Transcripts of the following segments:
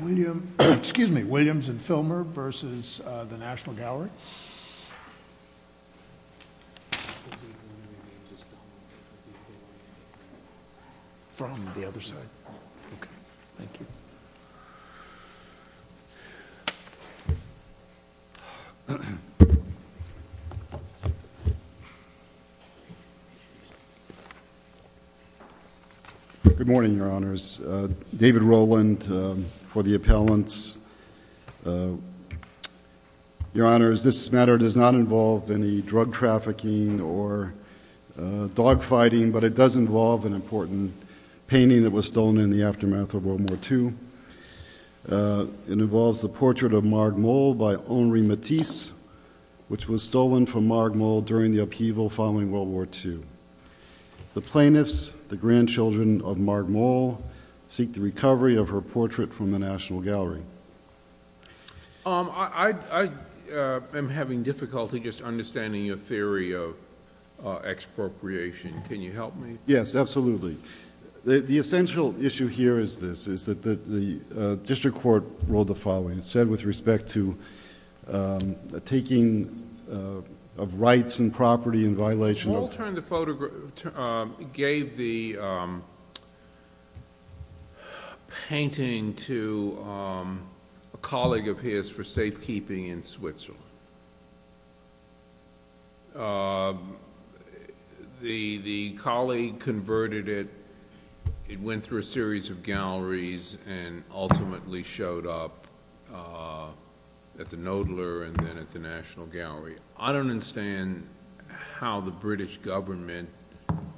William, excuse me, Williams and Filmer v. the National Gallery. From the other side, okay, thank you. Good morning, your honors. David Rowland for the appellants. Your honors, this matter does not involve any drug trafficking or dogfighting, but it does involve an important painting that was stolen in the aftermath of World War II. It involves the portrait of Marg Mole by Henri Matisse, which was stolen from Marg Mole during the upheaval following World War II. The plaintiffs, the grandchildren of Marg Mole, seek the recovery of her portrait from the National Gallery. I am having difficulty just understanding your theory of expropriation. Can you help me? Yes, absolutely. The essential issue here is this, is that the district court ruled the following. It said, with respect to taking of rights and property in violation of- Painting to a colleague of his for safekeeping in Switzerland. The colleague converted it. It went through a series of galleries and ultimately showed up at the Knoedler and then at the National Gallery. I don't understand how the British government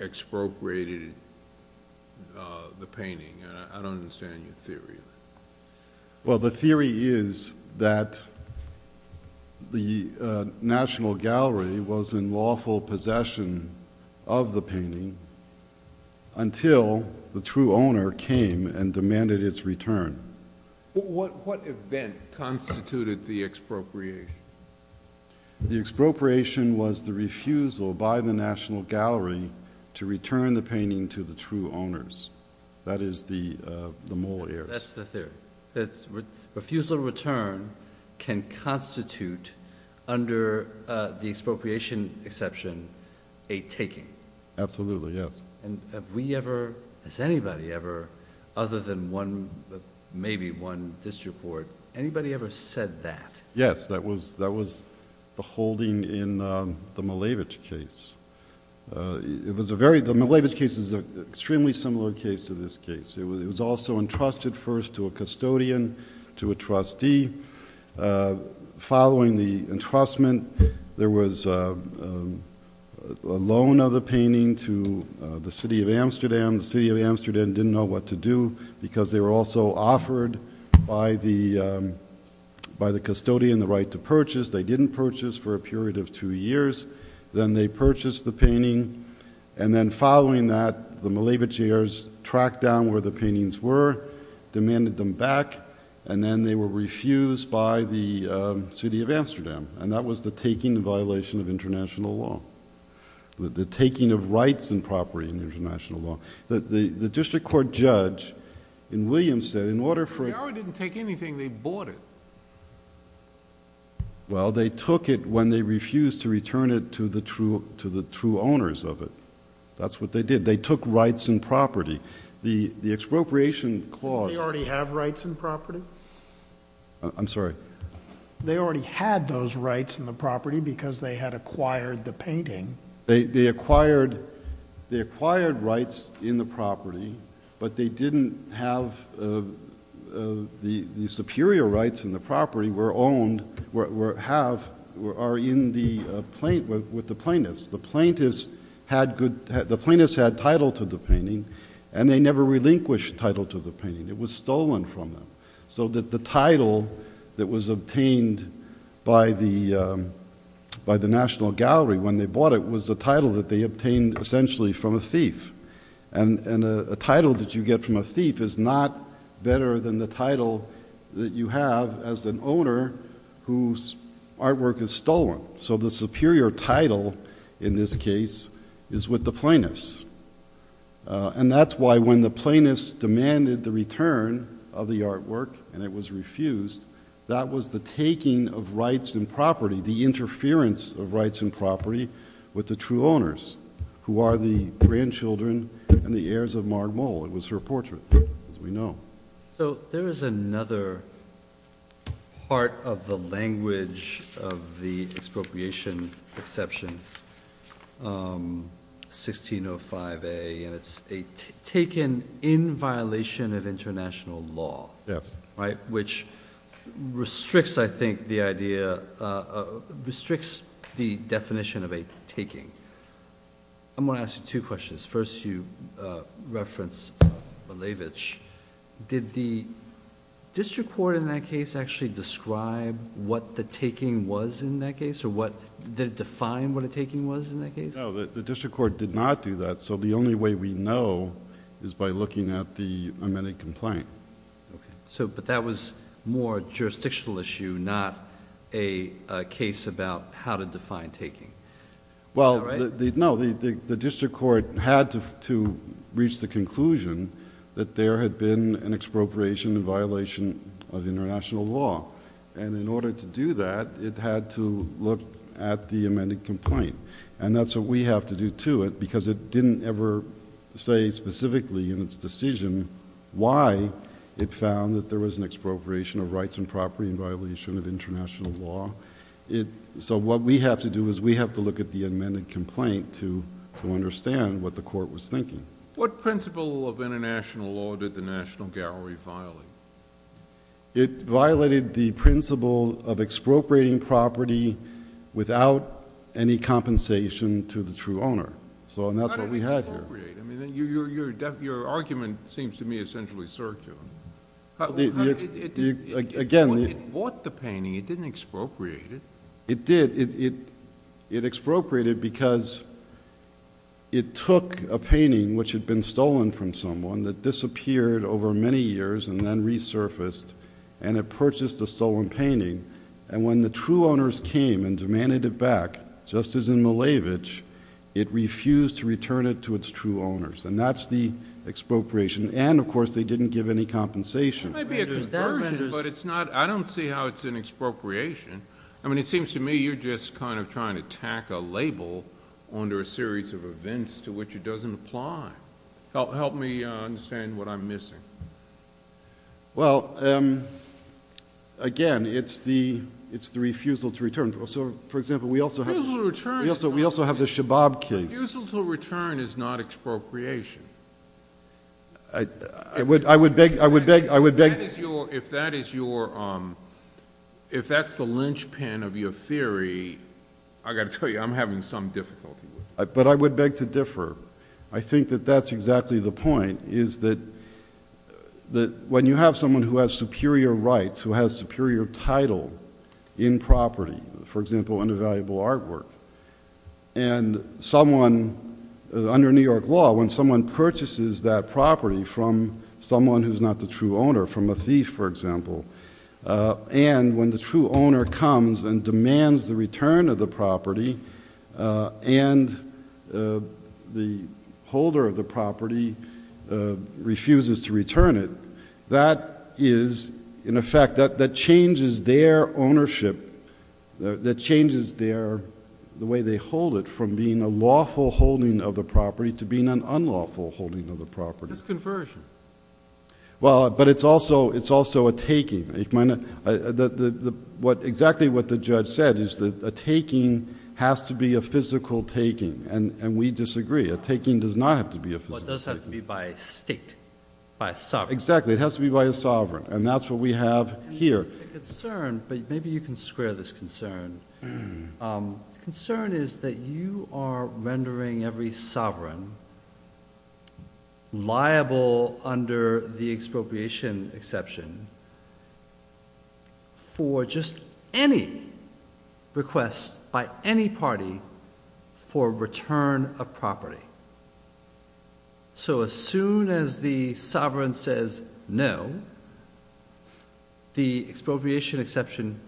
expropriated the painting. I don't understand your theory. Well, the theory is that the National Gallery was in lawful possession of the painting until the true owner came and demanded its return. What event constituted the expropriation? The expropriation was the refusal by the National Gallery to return the painting to the true owners. That is the Mole heirs. That's the theory. Refusal to return can constitute, under the expropriation exception, a taking. Absolutely, yes. Have we ever, has anybody ever, other than maybe one district court, anybody ever said that? Yes, that was the holding in the Malevich case. The Malevich case is an extremely similar case to this case. It was also entrusted first to a custodian, to a trustee. Following the entrustment, there was a loan of the painting to the city of Amsterdam. The city of Amsterdam didn't know what to do because they were also offered by the custodian the right to purchase. They didn't purchase for a period of two years. Then they purchased the painting, and then following that, the Malevich heirs tracked down where the paintings were, demanded them back, and then they were refused by the city of Amsterdam. That was the taking in violation of international law, the taking of rights and property in international law. The district court judge in Williamstown, in order for... The gallery didn't take anything. They bought it. They took it when they refused to return it to the true owners of it. That's what they did. They took rights and property. The expropriation clause... Didn't they already have rights and property? I'm sorry? They already had those rights and the property because they had acquired the painting. They acquired rights in the property, but they didn't have... The superior rights in the property were in the plaintiffs. The plaintiffs had title to the painting and they never relinquished title to the painting. It was stolen from them, so that the title that was obtained by the National Gallery when they bought it was the title that they obtained essentially from a thief. A title that you get from a thief is not better than the title that you have as an owner whose artwork is stolen. The superior title in this case is with the plaintiffs. That's why when the plaintiffs demanded the return of the artwork and it was refused, that was the taking of rights and property, the interference of rights and property with the true owners who are the grandchildren and the heirs of Marg Mole. It was her portrait, as we know. There is another part of the language of the expropriation exception, 1605A, and it's taken in violation of international law, which restricts the definition of a taking. I'm going to ask you two questions. First, you referenced Malevich. Did the district court in that case actually describe what the taking was in that case? Did it define what a taking was in that case? No, the district court did not do that, so the only way we know is by looking at the amended complaint. That was more a jurisdictional issue, not a case about how to define taking? Is that right? No, the district court had to reach the conclusion that there had been an expropriation in violation of international law. In order to do that, it had to look at the amended complaint. That's what we have to do to it because it didn't ever say specifically in its decision why it found that there was an expropriation of rights and property in violation of international law. What we have to do is we have to look at the amended complaint to understand what the court was thinking. What principle of international law did the National Gallery violate? It violated the principle of expropriating property without any compensation to the true owner, and that's what we had here. How did it expropriate? Your argument seems to me essentially circular. It bought the painting. It didn't expropriate it. It did. It expropriated because it took a painting which had been stolen from someone that disappeared over many years and then resurfaced, and it purchased a stolen painting. When the true owners came and demanded it back, just as in Malevich, it refused to return it to its true owners, and that's the expropriation. And, of course, they didn't give any compensation. It might be a conversion, but I don't see how it's an expropriation. I mean, it seems to me you're just kind of trying to tack a label onto a series of events to which it doesn't apply. Help me understand what I'm missing. Well, again, it's the refusal to return. For example, we also have the Shabab case. Refusal to return is not expropriation. I would beg— If that is your—if that's the linchpin of your theory, I've got to tell you I'm having some difficulty with it. But I would beg to differ. I think that that's exactly the point, is that when you have someone who has superior rights, who has superior title in property, for example, in a valuable artwork, and someone—under New York law, when someone purchases that property from someone who's not the true owner, from a thief, for example, and when the true owner comes and demands the return of the property and the holder of the property refuses to return it, that is, in effect, that changes their ownership, that changes their—the way they hold it from being a lawful holding of the property to being an unlawful holding of the property. It's conversion. Well, but it's also a taking. Exactly what the judge said is that a taking has to be a physical taking, and we disagree. A taking does not have to be a physical taking. Well, it does have to be by state, by sovereign. Exactly. It has to be by a sovereign, and that's what we have here. I have a concern, but maybe you can square this concern. The concern is that you are rendering every sovereign liable under the expropriation exception for just any request by any party for return of property. So as soon as the sovereign says no, the expropriation exception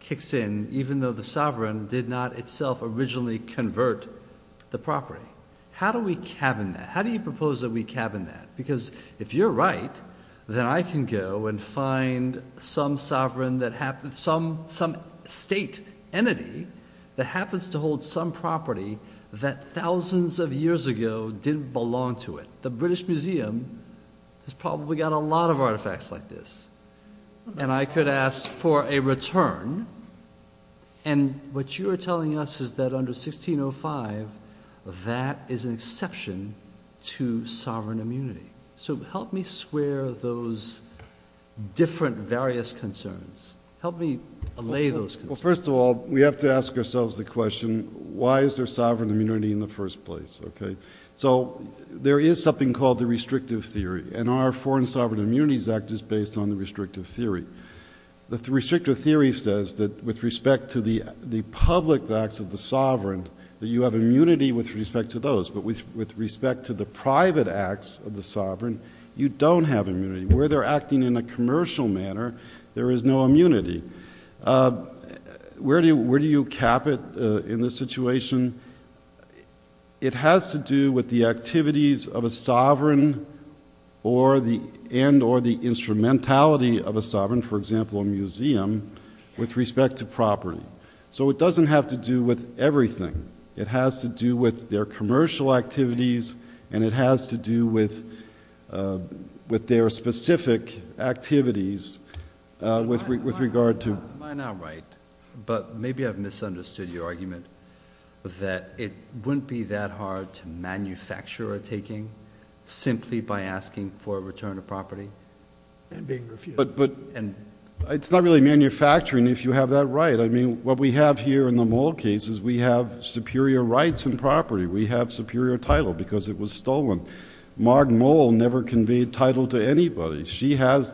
kicks in even though the sovereign did not itself originally convert the property. How do we cabin that? How do you propose that we cabin that? Because if you're right, then I can go and find some sovereign that—some state entity that happens to hold some property that thousands of years ago didn't belong to it. The British Museum has probably got a lot of artifacts like this, and I could ask for a return. And what you are telling us is that under 1605, that is an exception to sovereign immunity. So help me square those different various concerns. Help me allay those concerns. Well, first of all, we have to ask ourselves the question, why is there sovereign immunity in the first place? So there is something called the restrictive theory, and our Foreign Sovereign Immunities Act is based on the restrictive theory. The restrictive theory says that with respect to the public acts of the sovereign, that you have immunity with respect to those. But with respect to the private acts of the sovereign, you don't have immunity. Where they're acting in a commercial manner, there is no immunity. Where do you cap it in this situation? It has to do with the activities of a sovereign and or the instrumentality of a sovereign, for example, a museum, with respect to property. So it doesn't have to do with everything. It has to do with their commercial activities, and it has to do with their specific activities with regard to— Am I not right? But maybe I've misunderstood your argument that it wouldn't be that hard to manufacture a taking simply by asking for a return of property and being refused. But it's not really manufacturing if you have that right. I mean what we have here in the Moll case is we have superior rights in property. We have superior title because it was stolen. Marg Moll never conveyed title to anybody. She has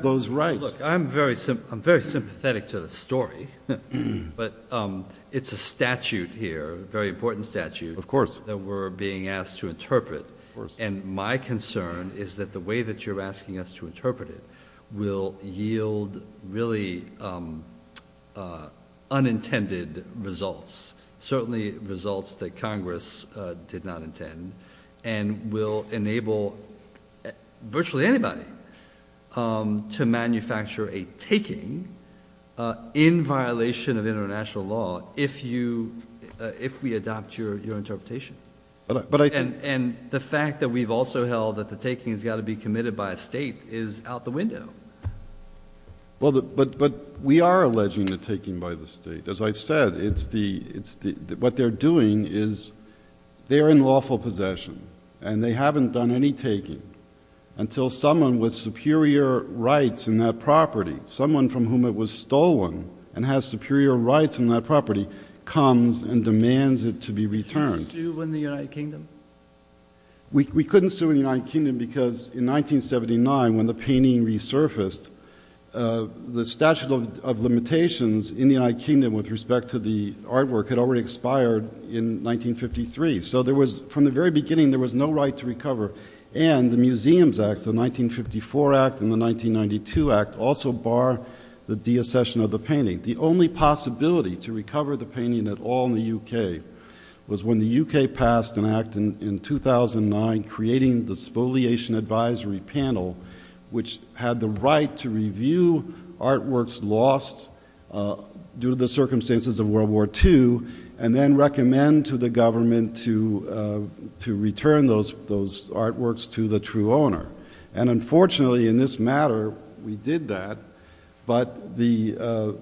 those rights. Look, I'm very sympathetic to the story, but it's a statute here, a very important statute— Of course. —that we're being asked to interpret, and my concern is that the way that you're asking us to interpret it will yield really unintended results, certainly results that Congress did not intend, and will enable virtually anybody to manufacture a taking in violation of international law if we adopt your interpretation. And the fact that we've also held that the taking has got to be committed by a state is out the window. But we are alleging the taking by the state. As I said, what they're doing is they're in lawful possession, and they haven't done any taking until someone with superior rights in that property, someone from whom it was stolen and has superior rights in that property, comes and demands it to be returned. Could you sue in the United Kingdom? We couldn't sue in the United Kingdom because in 1979, when the painting resurfaced, the statute of limitations in the United Kingdom with respect to the artwork had already expired in 1953. So from the very beginning, there was no right to recover. And the Museums Act, the 1954 Act, and the 1992 Act also bar the deaccession of the painting. The only possibility to recover the painting at all in the U.K. was when the U.K. passed an act in 2009 creating the Spoliation Advisory Panel, which had the right to review artworks lost due to the circumstances of World War II, and then recommend to the government to return those artworks to the true owner. And unfortunately, in this matter, we did that, but the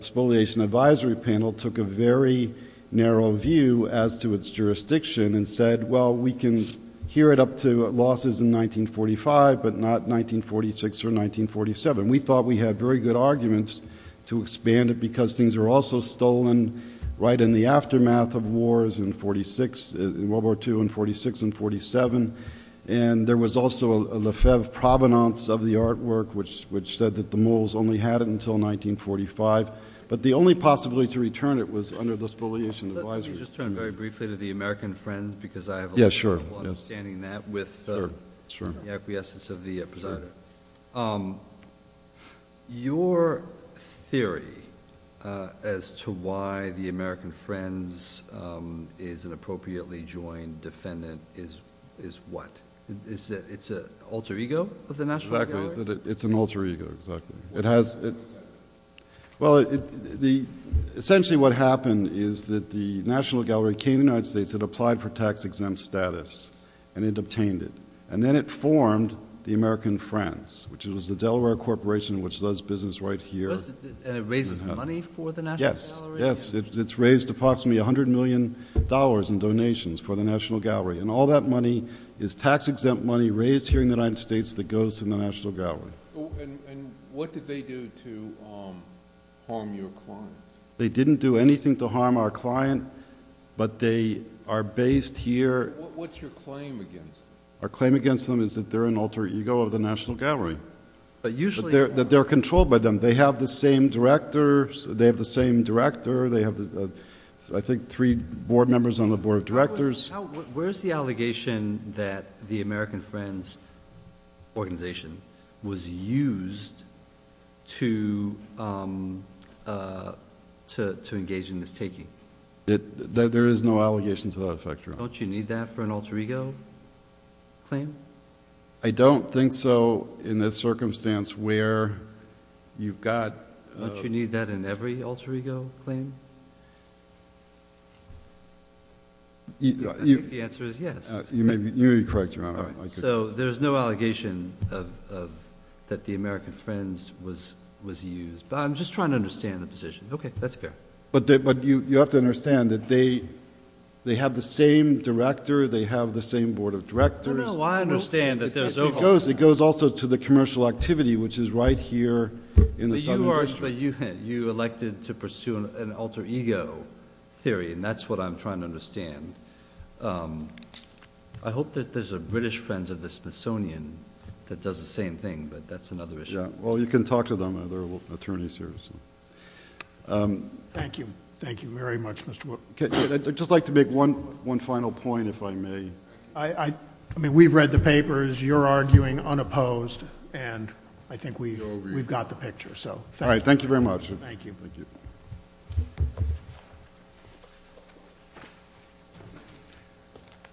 Spoliation Advisory Panel took a very narrow view as to its jurisdiction and said, well, we can hear it up to losses in 1945, but not 1946 or 1947. We thought we had very good arguments to expand it because things were also stolen right in the aftermath of wars in World War II in 46 and 47. And there was also a Lefebvre provenance of the artwork, which said that the Moles only had it until 1945. But the only possibility to return it was under the Spoliation Advisory Panel. Let me just turn very briefly to the American Friends because I have a little trouble understanding that with the acquiescence of the presider. Your theory as to why the American Friends is an appropriately joined defendant is what? It's an alter ego of the National Gallery? Exactly. It's an alter ego. Well, essentially what happened is that the National Gallery came to the United States. It applied for tax-exempt status, and it obtained it. And then it formed the American Friends, which was the Delaware Corporation, which does business right here. And it raises money for the National Gallery? Yes. It's raised approximately $100 million in donations for the National Gallery. And all that money is tax-exempt money raised here in the United States that goes to the National Gallery. And what did they do to harm your client? They didn't do anything to harm our client, but they are based here. What's your claim against them? Our claim against them is that they're an alter ego of the National Gallery, that they're controlled by them. They have the same director. They have the same director. They have, I think, three board members on the board of directors. Where's the allegation that the American Friends organization was used to engage in this taking? Don't you need that for an alter ego claim? I don't think so in the circumstance where you've got— Don't you need that in every alter ego claim? I think the answer is yes. You may be correct, Your Honor. So there's no allegation that the American Friends was used. But I'm just trying to understand the position. Okay. That's fair. But you have to understand that they have the same director. They have the same board of directors. I understand that there's— It goes also to the commercial activity, which is right here in the Southern District. But you elected to pursue an alter ego theory, and that's what I'm trying to understand. I hope that there's a British Friends of the Smithsonian that does the same thing, but that's another issue. Well, you can talk to them. They're attorneys here. Thank you. Thank you very much, Mr. Wood. I'd just like to make one final point, if I may. I mean, we've read the papers. You're arguing unopposed, and I think we've got the picture. All right. Thank you very much. Thank you.